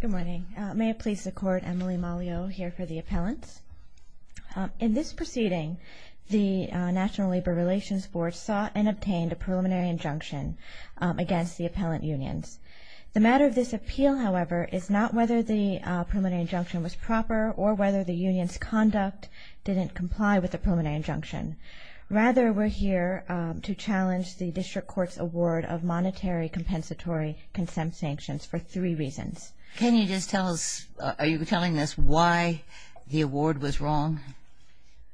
Good morning. May it please the Court, Emily Mollio here for the Appellants. In this proceeding, the National Labor Relations Board sought and obtained a preliminary injunction against the Appellant Unions. The matter of this appeal, however, is not whether the preliminary injunction was proper or whether the Union's conduct didn't comply with the preliminary injunction. Rather, we're here to challenge the District Court's award of monetary compensatory consent sanctions for three reasons. Can you just tell us, are you telling us why the award was wrong?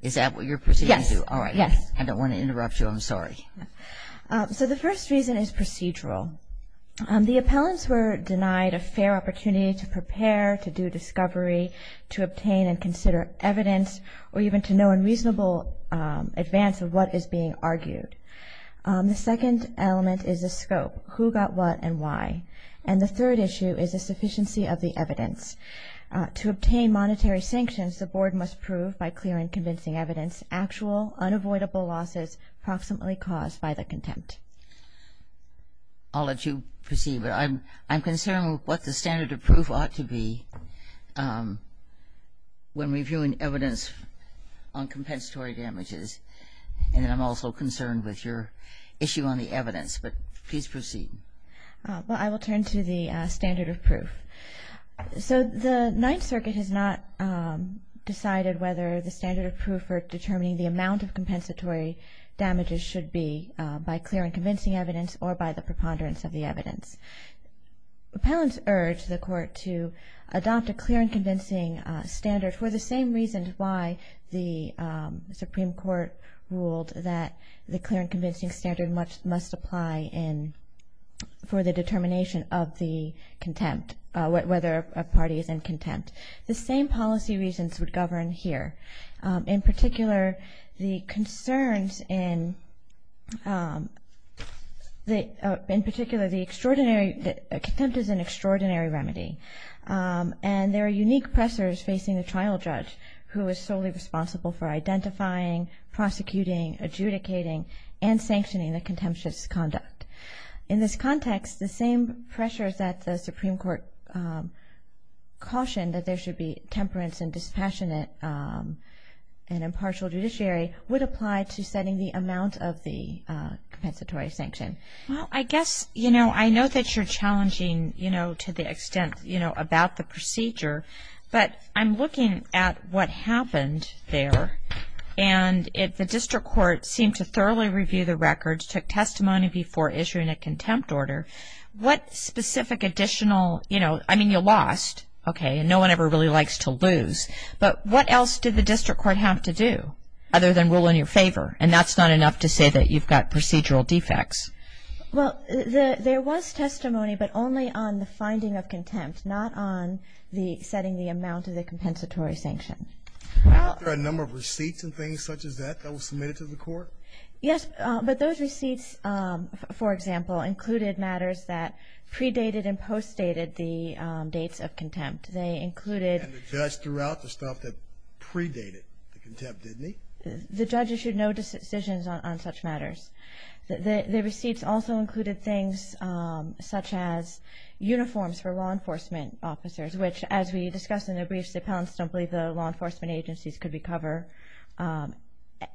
Is that what you're proceeding to? Yes. All right. I don't want to interrupt you. I'm sorry. So the first reason is procedural. The Appellants were denied a fair opportunity to prepare, to do discovery, to obtain and consider evidence, or even to know in reasonable advance of what is being argued. The second element is the scope, who got what and why. And the third issue is the sufficiency of the evidence. To obtain monetary sanctions, the Board must prove, by clear and convincing evidence, actual unavoidable losses approximately caused by the contempt. I'll let you proceed. I'm concerned with what the standard of proof ought to be when reviewing evidence on compensatory damages. And I'm also concerned with your issue on the evidence. But please proceed. Well, I will turn to the standard of proof. So the Ninth Circuit has not decided whether the standard of proof for determining the amount of compensatory damages should be by clear and convincing evidence or by the preponderance of the evidence. Appellants urge the Court to adopt a clear and convincing standard for the same reasons why the Supreme Court ruled that the clear and convincing standard must apply for the determination of the contempt, whether a party is in contempt. The same policy reasons would govern here. In particular, contempt is an extraordinary remedy. And there are unique pressures facing the trial judge, who is solely responsible for identifying, prosecuting, adjudicating, and sanctioning the contemptuous conduct. In this context, the same pressures that the Supreme Court cautioned, that there should be temperance and dispassionate and impartial judiciary, would apply to setting the amount of the compensatory sanction. Well, I guess, you know, I know that you're challenging, you know, to the extent, you know, about the procedure. But I'm looking at what happened there. And if the district court seemed to thoroughly review the records, took testimony before issuing a contempt order, what specific additional, you know, I mean, you lost, okay, and no one ever really likes to lose. But what else did the district court have to do, other than rule in your favor? And that's not enough to say that you've got procedural defects. Well, there was testimony, but only on the finding of contempt, not on the setting the amount of the compensatory sanction. Were there a number of receipts and things such as that that were submitted to the Court? Yes. But those receipts, for example, included matters that predated and postdated the dates of contempt. They included- And the judge threw out the stuff that predated the contempt, didn't he? The judge issued no decisions on such matters. The receipts also included things such as uniforms for law enforcement officers, which, as we discussed in the brief, the appellants don't believe the law enforcement agencies could recover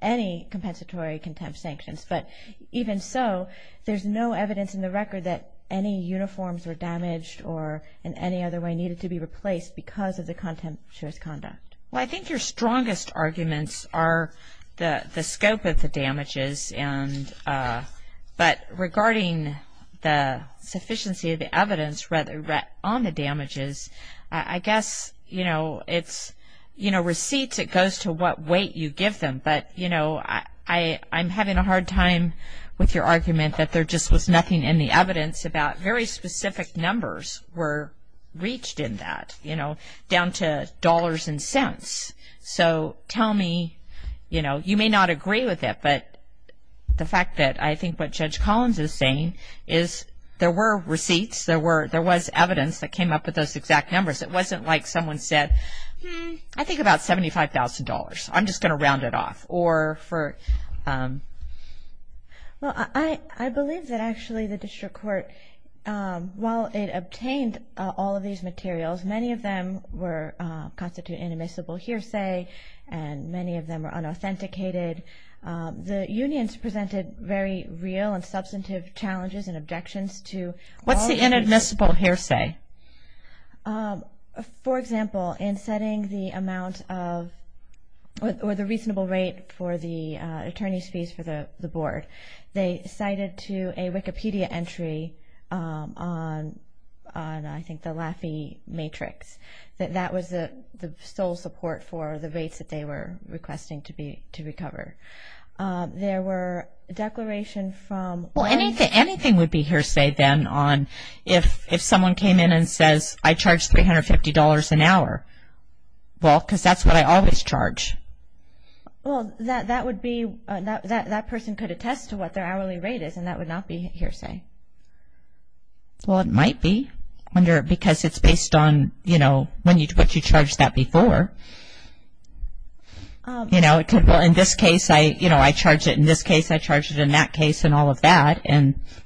any compensatory contempt sanctions. But even so, there's no evidence in the record that any uniforms were damaged or in any other way needed to be replaced because of the contemptuous conduct. Well, I think your strongest arguments are the scope of the damages. But regarding the sufficiency of the evidence on the damages, I guess, you know, it's, you know, receipts, it goes to what weight you give them. But, you know, I'm having a hard time with your argument that there just was nothing in the evidence about very specific numbers were reached in that, you know, down to dollars and cents. So tell me, you know, you may not agree with it, but the fact that I think what Judge Collins is saying is there were receipts, there was evidence that came up with those exact numbers. It wasn't like someone said, hmm, I think about $75,000. I'm just going to round it off or for- Well, I believe that actually the district court, while it obtained all of these materials, many of them were constituted inadmissible hearsay and many of them were unauthenticated. The unions presented very real and substantive challenges and objections to- What's the inadmissible hearsay? For example, in setting the amount of or the reasonable rate for the attorney's fees for the board, they cited to a Wikipedia entry on, I think, the Laffey Matrix. That was the sole support for the rates that they were requesting to recover. There were declaration from- Well, anything would be hearsay then on if someone came in and says, I charge $350 an hour. Well, because that's what I always charge. Well, that person could attest to what their hourly rate is and that would not be hearsay. Well, it might be because it's based on what you charged that before. In this case, I charged it. In this case, I charged it. In that case, and all of that.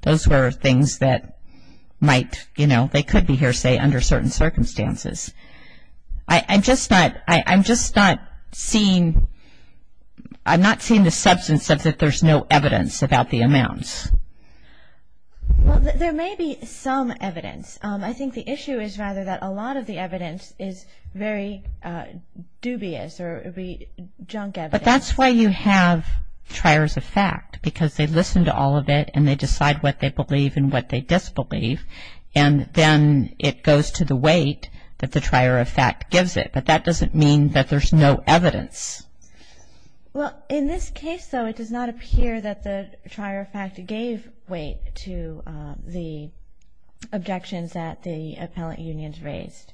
Those were things that might-they could be hearsay under certain circumstances. I'm just not seeing-I'm not seeing the substance of that there's no evidence about the amounts. Well, there may be some evidence. I think the issue is rather that a lot of the evidence is very dubious or it would be junk evidence. But that's why you have triers of fact, because they listen to all of it and they decide what they believe and what they disbelieve. And then it goes to the weight that the trier of fact gives it. But that doesn't mean that there's no evidence. Well, in this case, though, it does not appear that the trier of fact gave weight to the objections that the appellant unions raised.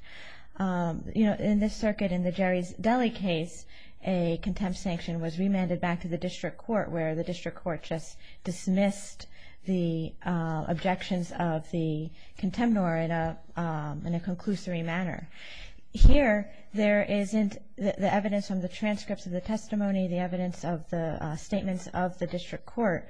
You know, in this circuit, in the Jerry's Deli case, a contempt sanction was remanded back to the district court where the district court just dismissed the objections of the contemnor in a conclusory manner. Here, there isn't-the evidence from the transcripts of the testimony, the evidence of the statements of the district court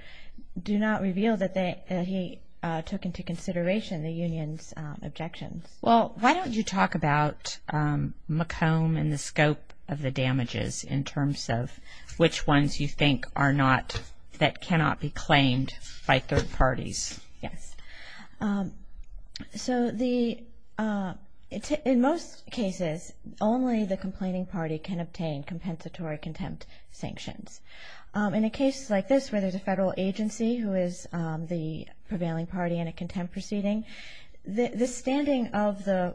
do not reveal that they- that he took into consideration the union's objections. Well, why don't you talk about McComb and the scope of the damages in terms of which ones you think are not-that cannot be claimed by third parties? Yes. So the-in most cases, only the complaining party can obtain compensatory contempt sanctions. In a case like this where there's a federal agency who is the prevailing party in a contempt proceeding, the standing of the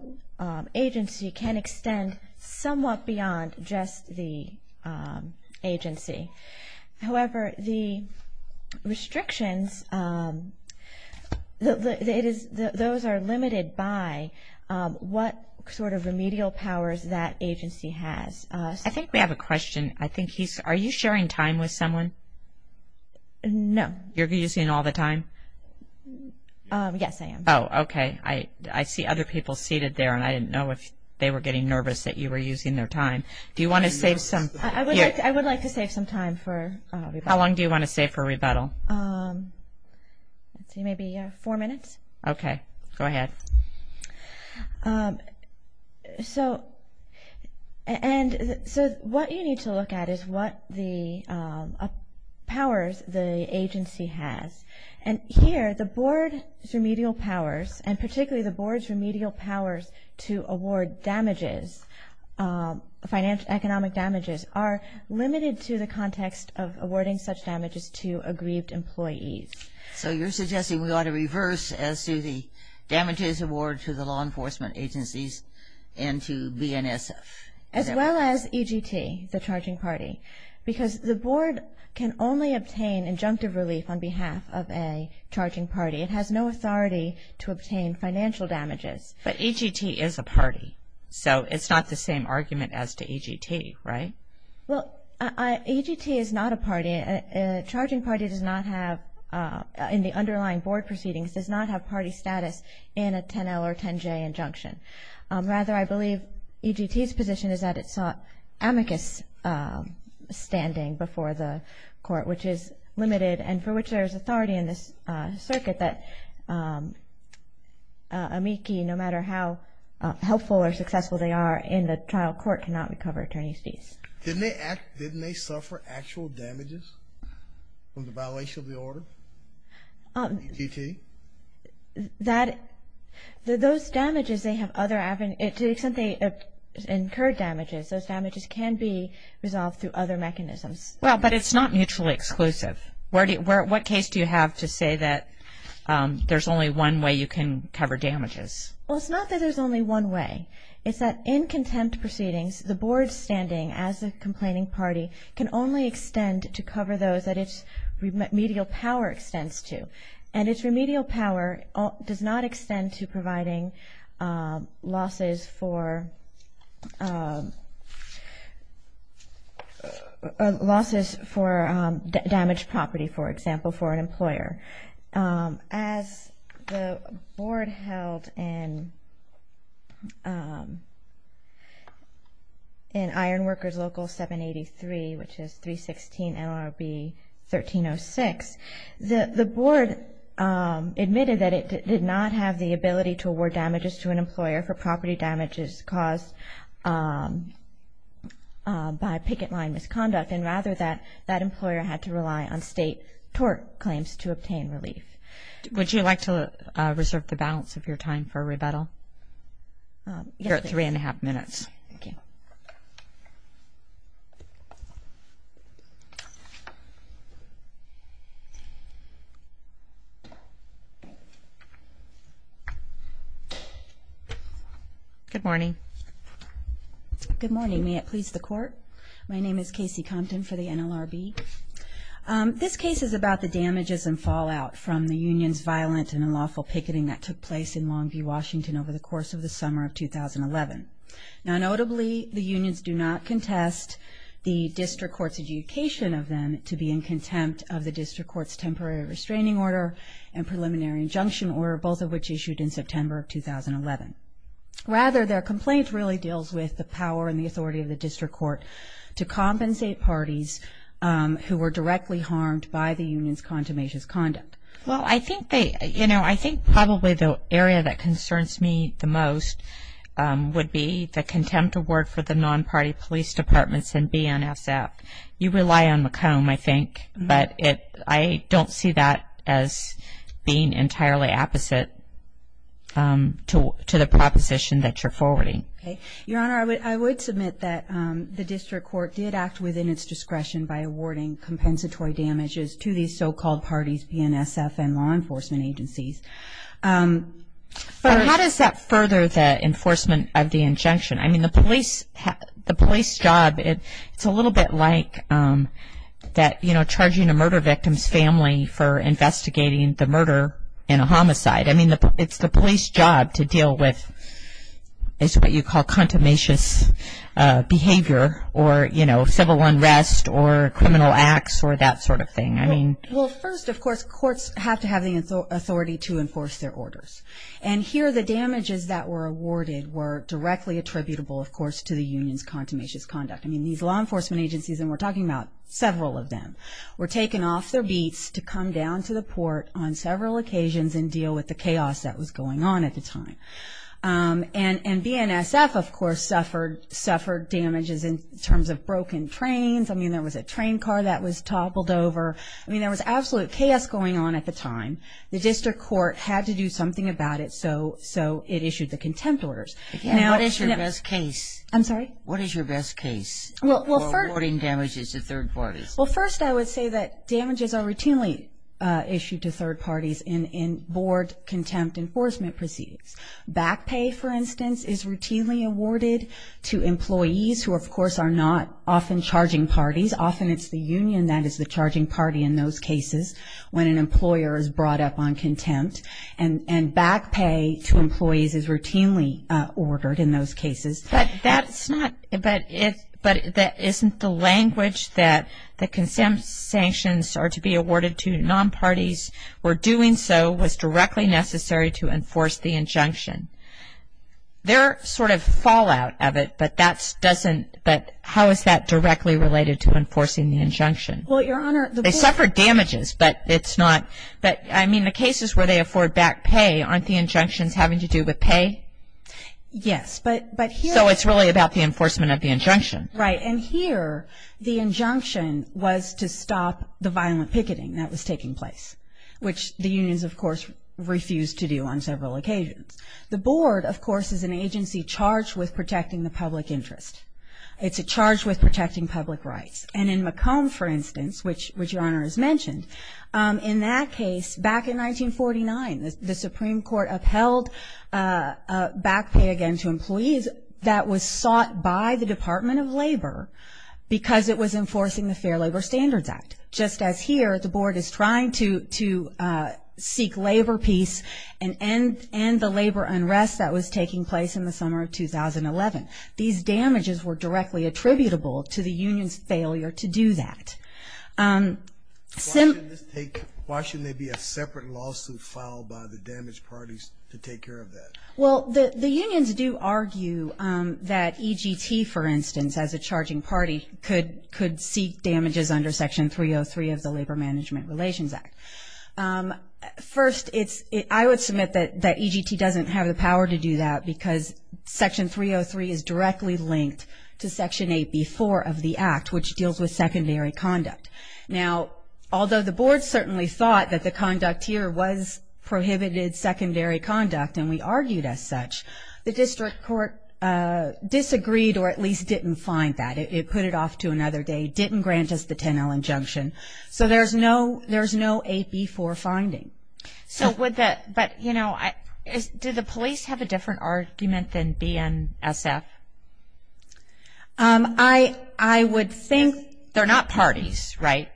agency can extend somewhat beyond just the agency. However, the restrictions-it is-those are limited by what sort of remedial powers that agency has. I think we have a question. I think he's-are you sharing time with someone? No. You're using all the time? Yes, I am. Oh, okay. I see other people seated there, and I didn't know if they were getting nervous that you were using their time. Do you want to save some- I would like to save some time for rebuttal. How long do you want to save for rebuttal? Let's see, maybe four minutes. Okay. Go ahead. So-and so what you need to look at is what the powers the agency has. And here, the board's remedial powers, and particularly the board's remedial powers to award damages, financial-economic damages, are limited to the context of awarding such damages to aggrieved employees. So you're suggesting we ought to reverse as to the damages award to the law enforcement agencies and to BNSF. As well as EGT, the charging party, because the board can only obtain injunctive relief on behalf of a charging party. It has no authority to obtain financial damages. But EGT is a party, so it's not the same argument as to EGT, right? Charging party does not have, in the underlying board proceedings, does not have party status in a 10-L or 10-J injunction. Rather, I believe EGT's position is that it sought amicus standing before the court, which is limited and for which there is authority in this circuit that amici, no matter how helpful or successful they are in the trial, court cannot recover attorney's fees. Didn't they suffer actual damages from the violation of the order, EGT? That, those damages, they have other, to the extent they incurred damages, those damages can be resolved through other mechanisms. Well, but it's not mutually exclusive. What case do you have to say that there's only one way you can cover damages? Well, it's not that there's only one way. It's that in contempt proceedings, the board standing as a complaining party can only extend to cover those that its remedial power extends to. And its remedial power does not extend to providing losses for damaged property, for example, for an employer. As the board held in Ironworkers Local 783, which is 316 NLRB 1306, the board admitted that it did not have the ability to award damages to an employer for property damages caused by picket line misconduct, and rather that that employer had to rely on state tort claims to obtain relief. Would you like to reserve the balance of your time for rebuttal? You're at three and a half minutes. Good morning. Good morning. May it please the court. My name is Casey Compton for the NLRB. This case is about the damages and fallout from the union's violent and unlawful picketing that took place in Longview, Washington, over the course of the summer of 2011. Now, notably, the unions do not contest the district court's adjudication of them to be in contempt of the district court's temporary restraining order and preliminary injunction order, both of which issued in September of 2011. Rather, their complaint really deals with the power and the authority of the district court to compensate parties who were directly harmed by the union's consummation's conduct. Well, I think they, you know, I think probably the area that concerns me the most would be the contempt award for the non-party police departments and BNSF. You rely on McComb, I think, but I don't see that as being entirely opposite to the proposition that you're forwarding. Okay. Your Honor, I would submit that the district court did act within its discretion by awarding compensatory damages to these so-called parties, BNSF and law enforcement agencies. But how does that further the enforcement of the injunction? I mean, the police job, it's a little bit like that, you know, charging a murder victim's family for investigating the murder in a homicide. I mean, it's the police job to deal with what you call contumacious behavior or, you know, civil unrest or criminal acts or that sort of thing. I mean. Well, first, of course, courts have to have the authority to enforce their orders. And here the damages that were awarded were directly attributable, of course, to the union's contumacious conduct. I mean, these law enforcement agencies, and we're talking about several of them, were taken off their beats to come down to the port on several occasions and deal with the chaos that was going on at the time. And BNSF, of course, suffered damages in terms of broken trains. I mean, there was a train car that was toppled over. I mean, there was absolute chaos going on at the time. The district court had to do something about it so it issued the contempt orders. What is your best case? I'm sorry? What is your best case for awarding damages to third parties? Well, first I would say that damages are routinely issued to third parties in board contempt enforcement proceedings. Back pay, for instance, is routinely awarded to employees who, of course, are not often charging parties. Often it's the union that is the charging party in those cases when an employer is brought up on contempt. And back pay to employees is routinely ordered in those cases. But that's not, but isn't the language that the contempt sanctions are to be awarded to non-parties where doing so was directly necessary to enforce the injunction? There are sort of fallout of it, but that doesn't, They suffer damages, but it's not, I mean, the cases where they afford back pay aren't the injunctions having to do with pay? Yes, but here. So it's really about the enforcement of the injunction. Right. And here the injunction was to stop the violent picketing that was taking place, which the unions, of course, refused to do on several occasions. The board, of course, is an agency charged with protecting the public interest. It's charged with protecting public rights. And in McComb, for instance, which Your Honor has mentioned, in that case, back in 1949, the Supreme Court upheld back pay again to employees that was sought by the Department of Labor because it was enforcing the Fair Labor Standards Act. Just as here, the board is trying to seek labor peace and end the labor unrest that was taking place in the summer of 2011. These damages were directly attributable to the union's failure to do that. Why shouldn't there be a separate lawsuit filed by the damaged parties to take care of that? Well, the unions do argue that EGT, for instance, as a charging party, could seek damages under Section 303 of the Labor Management Relations Act. First, I would submit that EGT doesn't have the power to do that because Section 303 is directly linked to Section 8b-4 of the Act, which deals with secondary conduct. Now, although the board certainly thought that the conduct here was prohibited secondary conduct and we argued as such, the district court disagreed or at least didn't find that. It put it off to another day, didn't grant us the 10-L injunction. So there's no 8b-4 finding. But, you know, do the police have a different argument than BNSF? I would think... They're not parties, right?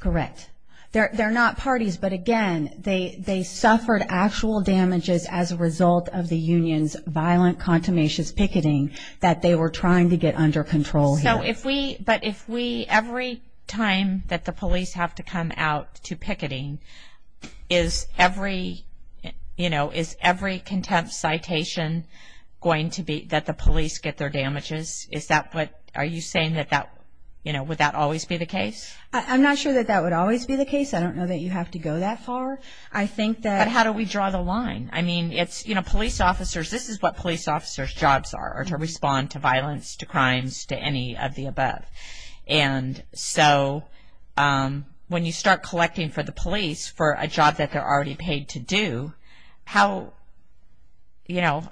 Correct. They're not parties, but, again, they suffered actual damages as a result of the union's violent, contumacious picketing that they were trying to get under control here. But if we every time that the police have to come out to picketing, is every contempt citation going to be that the police get their damages? Is that what... Are you saying that that... Would that always be the case? I'm not sure that that would always be the case. I don't know that you have to go that far. I think that... But how do we draw the line? I mean, it's, you know, police officers... This is what police officers' jobs are, are to respond to violence, to crimes, to any of the above. And so when you start collecting for the police for a job that they're already paid to do, how, you know...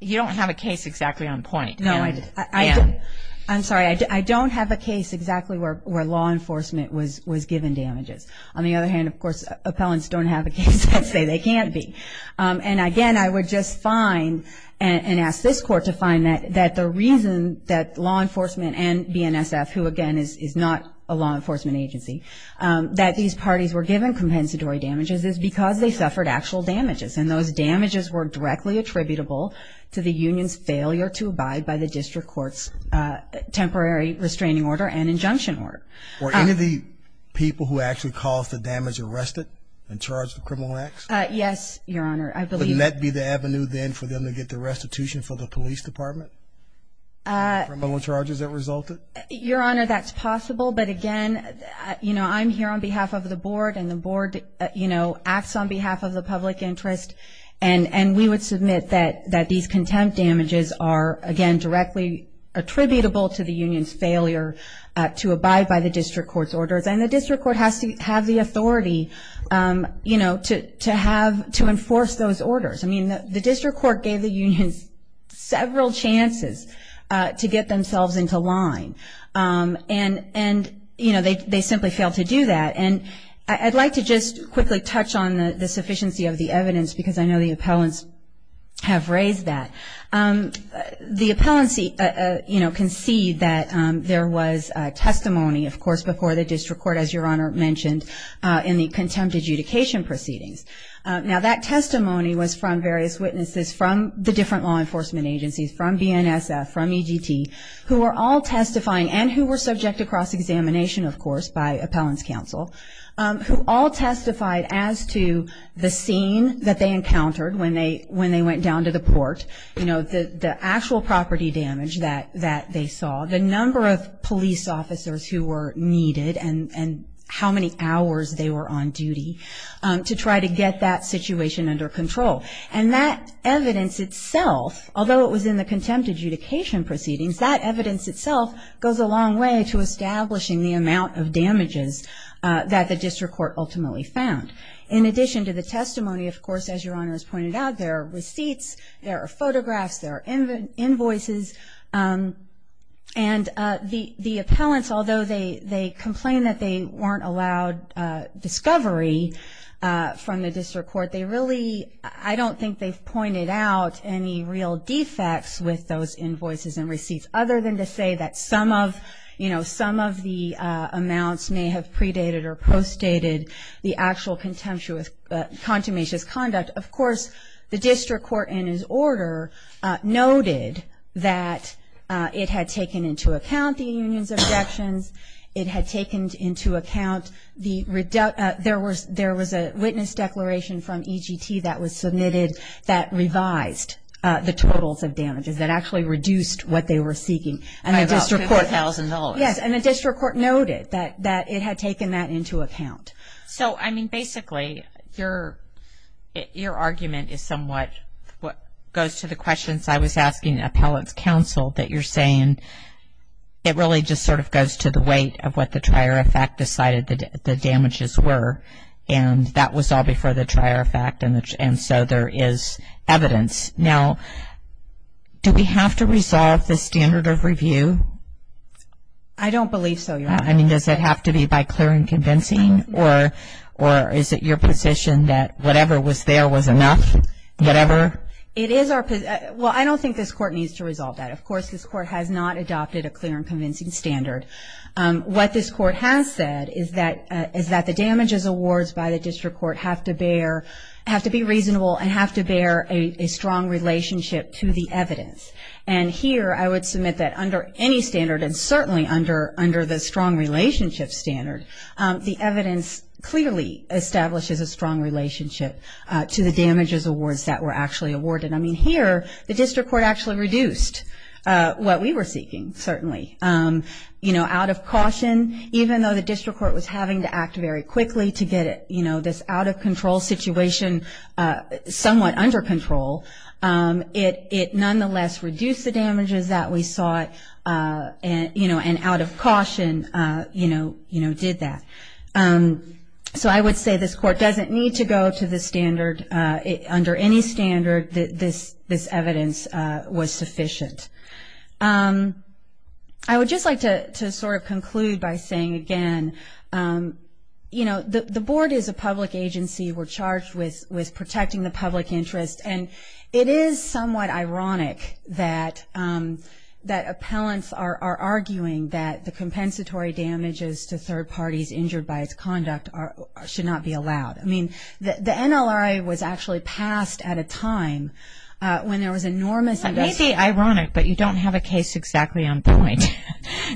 You don't have a case exactly on point. No, I do. I'm sorry. I don't have a case exactly where law enforcement was given damages. On the other hand, of course, appellants don't have a case. I'll say they can't be. And, again, I would just find and ask this court to find that the reason that law enforcement and BNSF, who, again, is not a law enforcement agency, that these parties were given compensatory damages is because they suffered actual damages, and those damages were directly attributable to the union's failure to abide by the district court's temporary restraining order and injunction order. Were any of the people who actually caused the damage arrested and charged with criminal acts? Yes, Your Honor. Wouldn't that be the avenue then for them to get the restitution for the police department? Criminal charges that resulted? Your Honor, that's possible. But, again, you know, I'm here on behalf of the board, and the board, you know, acts on behalf of the public interest. And we would submit that these contempt damages are, again, And the district court has to have the authority, you know, to enforce those orders. I mean, the district court gave the unions several chances to get themselves into line. And, you know, they simply failed to do that. And I'd like to just quickly touch on the sufficiency of the evidence, because I know the appellants have raised that. The appellants, you know, concede that there was testimony, of course, before the district court, as Your Honor mentioned, in the contempt adjudication proceedings. Now, that testimony was from various witnesses from the different law enforcement agencies, from BNSF, from EGT, who were all testifying and who were subject to cross-examination, of course, by appellants' counsel, who all testified as to the scene that they encountered when they went down to the port, you know, the actual property damage that they saw, the number of police officers who were needed, and how many hours they were on duty to try to get that situation under control. And that evidence itself, although it was in the contempt adjudication proceedings, that evidence itself goes a long way to establishing the amount of damages that the district court ultimately found. In addition to the testimony, of course, as Your Honor has pointed out, there are receipts, there are photographs, there are invoices, and the appellants, although they complain that they weren't allowed discovery from the district court, they really, I don't think they've pointed out any real defects with those invoices and receipts, other than to say that some of, you know, some of the amounts may have predated or postdated the actual contemptuous, consummationist conduct. Of course, the district court in its order noted that it had taken into account the union's objections, it had taken into account the, there was a witness declaration from EGT that was submitted that revised the totals of damages, that actually reduced what they were seeking. And the district court. By about $50,000. Yes, and the district court noted that it had taken that into account. So, I mean, basically, your argument is somewhat, goes to the questions I was asking appellants' counsel, that you're saying it really just sort of goes to the weight of what the trier of fact decided the damages were, and that was all before the trier of fact, and so there is evidence. Now, do we have to resolve the standard of review? I don't believe so, Your Honor. I mean, does it have to be by clear and convincing, or is it your position that whatever was there was enough, whatever? It is our, well, I don't think this court needs to resolve that. Of course, this court has not adopted a clear and convincing standard. What this court has said is that the damages awards by the district court have to bear, have to be reasonable and have to bear a strong relationship to the evidence. And here I would submit that under any standard, and certainly under the strong relationship standard, the evidence clearly establishes a strong relationship to the damages awards that were actually awarded. I mean, here the district court actually reduced what we were seeking, certainly, you know, out of caution. Even though the district court was having to act very quickly to get, you know, this out-of-control situation somewhat under control, it nonetheless reduced the damages that we sought, you know, and out of caution, you know, did that. So I would say this court doesn't need to go to the standard, under any standard, this evidence was sufficient. I would just like to sort of conclude by saying again, you know, the board is a public agency. We're charged with protecting the public interest. And it is somewhat ironic that appellants are arguing that the compensatory damages to third parties injured by its conduct should not be allowed. I mean, the NLRA was actually passed at a time when there was enormous investment. It may be ironic, but you don't have a case exactly on point.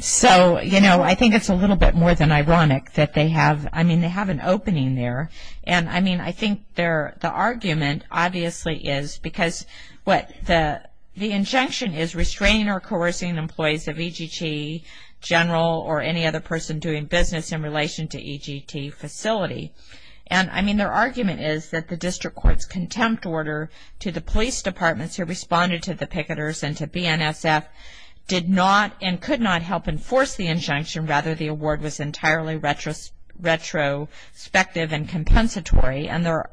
So, you know, I think it's a little bit more than ironic that they have, I mean, they have an opening there. And I mean, I think the argument obviously is because what the injunction is restraining or coercing employees of EGT general or any other person doing business in relation to EGT facility. And I mean, their argument is that the district court's contempt order to the police departments who responded to the picketers and to BNSF did not and could not help enforce the injunction. Rather, the award was entirely retrospective and compensatory. And there,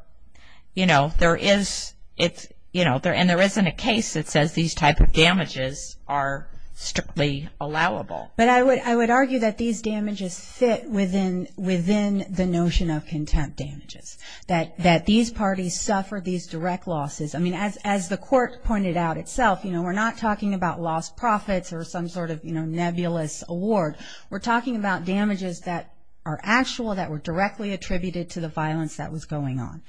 you know, there is, it's, you know, and there isn't a case that says these type of damages are strictly allowable. But I would argue that these damages fit within the notion of contempt damages. That these parties suffer these direct losses. I mean, as the court pointed out itself, you know, we're not talking about lost profits or some sort of, you know, nebulous award. We're talking about damages that are actual, that were directly attributed to the violence that was going on.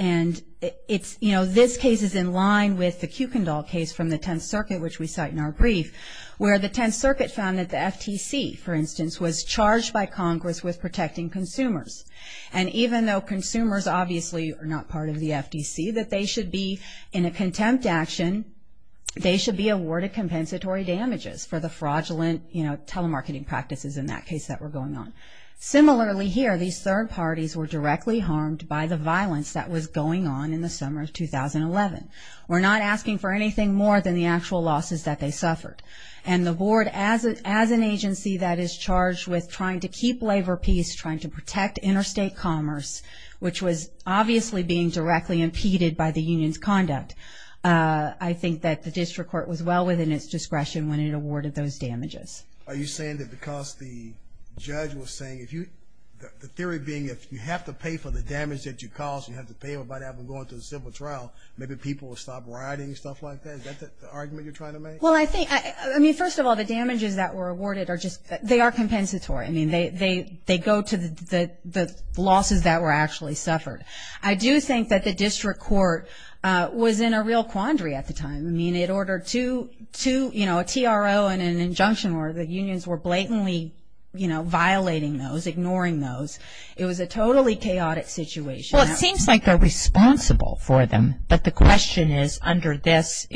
And it's, you know, this case is in line with the Kuykendall case from the Tenth Circuit, which we cite in our brief, where the Tenth Circuit found that the FTC, for instance, was charged by Congress with protecting consumers. And even though consumers obviously are not part of the FTC, that they should be in a contempt action, they should be awarded compensatory damages for the fraudulent, you know, telemarketing practices in that case that were going on. Similarly here, these third parties were directly harmed by the violence that was going on in the summer of 2011. We're not asking for anything more than the actual losses that they suffered. And the board, as an agency that is charged with trying to keep labor peace, trying to protect interstate commerce, which was obviously being directly impeded by the union's conduct, I think that the district court was well within its discretion when it awarded those damages. Are you saying that because the judge was saying, if you, the theory being, if you have to pay for the damage that you caused, you have to pay to have them go into a civil trial, maybe people will stop riding and stuff like that? Is that the argument you're trying to make? Well, I think, I mean, first of all, the damages that were awarded are just, they are compensatory. I mean, they go to the losses that were actually suffered. I do think that the district court was in a real quandary at the time. I mean, it ordered two, you know, a TRO and an injunction order. The unions were blatantly, you know, violating those, ignoring those. It was a totally chaotic situation. Well, it seems like they're responsible for them. But the question is, under this,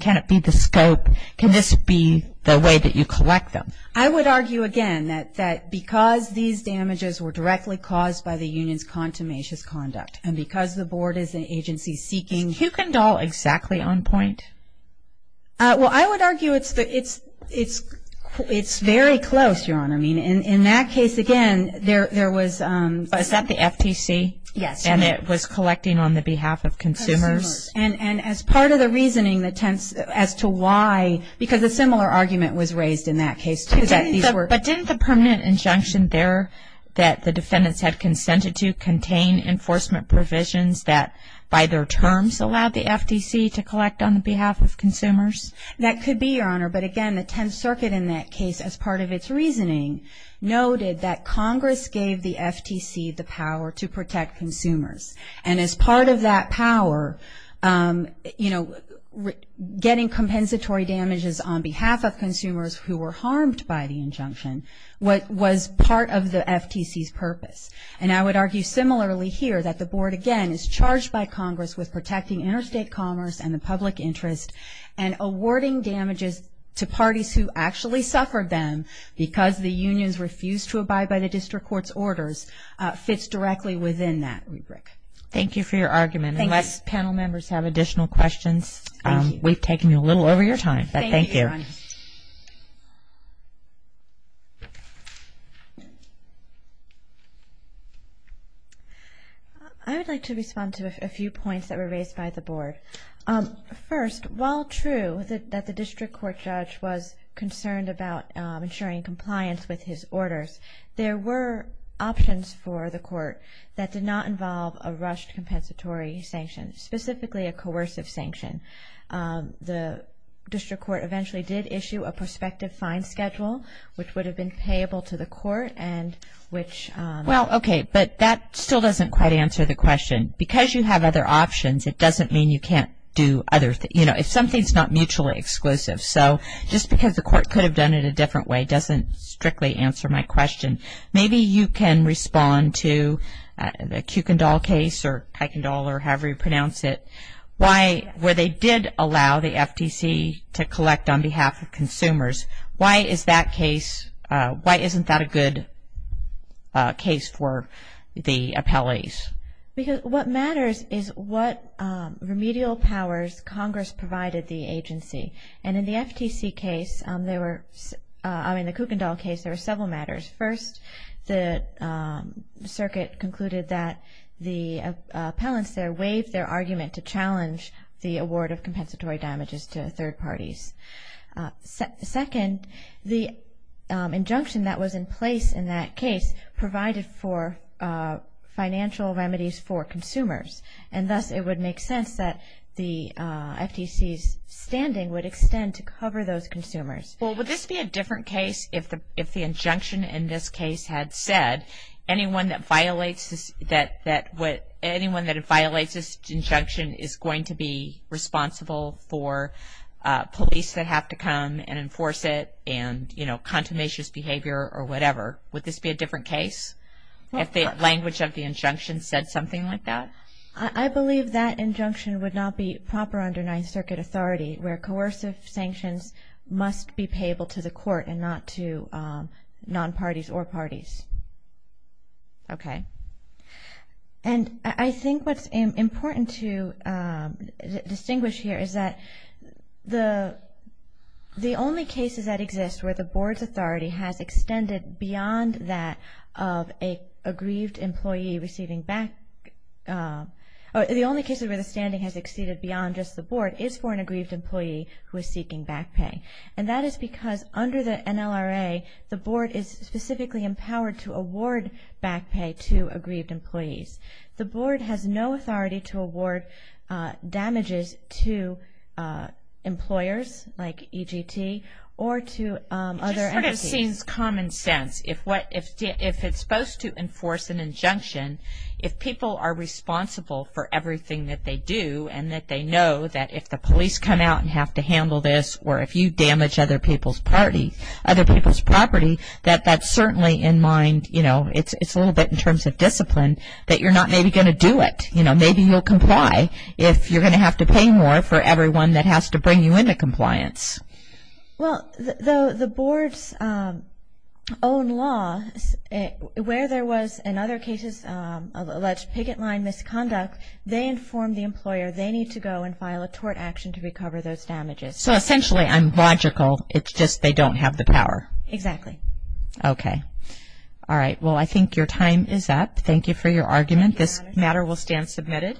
can it be the scope, can this be the way that you collect them? I would argue, again, that because these damages were directly caused by the union's contumacious conduct and because the board is an agency seeking. Is Kuykendall exactly on point? Well, I would argue it's very close, Your Honor. I mean, in that case, again, there was... Is that the FTC? Yes. And it was collecting on the behalf of consumers? Consumers. And as part of the reasoning that tends as to why, because a similar argument was raised in that case, too, that these were... But didn't the permanent injunction there that the defendants had consented to contain enforcement provisions that, by their terms, allowed the FTC to collect on the behalf of consumers? That could be, Your Honor. But, again, the Tenth Circuit in that case, as part of its reasoning, noted that Congress gave the FTC the power to protect consumers. And as part of that power, you know, getting compensatory damages on behalf of consumers who were harmed by the injunction was part of the FTC's purpose. And I would argue similarly here that the board, again, is charged by Congress with protecting interstate commerce and the public interest, by the district court's orders, fits directly within that rubric. Thank you for your argument. Unless panel members have additional questions, we've taken a little over your time, but thank you. Thank you, Your Honor. I would like to respond to a few points that were raised by the board. First, while true that the district court judge was concerned about ensuring compliance with his orders, there were options for the court that did not involve a rushed compensatory sanction, specifically a coercive sanction. The district court eventually did issue a prospective fine schedule, which would have been payable to the court and which — Well, okay, but that still doesn't quite answer the question. Because you have other options, it doesn't mean you can't do other — you know, if something's not mutually exclusive. So just because the court could have done it a different way doesn't strictly answer my question. Maybe you can respond to the Kuykendall case, or Kuykendall, or however you pronounce it, where they did allow the FTC to collect on behalf of consumers. Why is that case — why isn't that a good case for the appellees? Because what matters is what remedial powers Congress provided the agency. And in the FTC case, there were — I mean, the Kuykendall case, there were several matters. First, the circuit concluded that the appellants there waived their argument to challenge the award of compensatory damages to third parties. Second, the injunction that was in place in that case provided for financial remedies for consumers. And thus, it would make sense that the FTC's standing would extend to cover those consumers. Well, would this be a different case if the injunction in this case had said, anyone that violates this injunction is going to be responsible for police that have to come and enforce it and, you know, contumacious behavior or whatever. Would this be a different case if the language of the injunction said something like that? I believe that injunction would not be proper under Ninth Circuit authority where coercive sanctions must be payable to the court and not to non-parties or parties. Okay. And I think what's important to distinguish here is that the only cases that exist where the board's beyond that of an aggrieved employee receiving back or the only cases where the standing has exceeded beyond just the board is for an aggrieved employee who is seeking back pay. And that is because under the NLRA, the board is specifically empowered to award back pay to aggrieved employees. The board has no authority to award damages to employers like EGT or to other entities. It seems common sense if it's supposed to enforce an injunction, if people are responsible for everything that they do and that they know that if the police come out and have to handle this or if you damage other people's property, that that's certainly in mind, you know, it's a little bit in terms of discipline that you're not maybe going to do it. You know, maybe you'll comply if you're going to have to pay more for everyone that has to bring you into compliance. Well, the board's own law where there was in other cases alleged picket line misconduct, they informed the employer they need to go and file a tort action to recover those damages. So essentially, I'm logical. It's just they don't have the power. Exactly. Okay. All right. Well, I think your time is up. Thank you for your argument. This matter will stand submitted.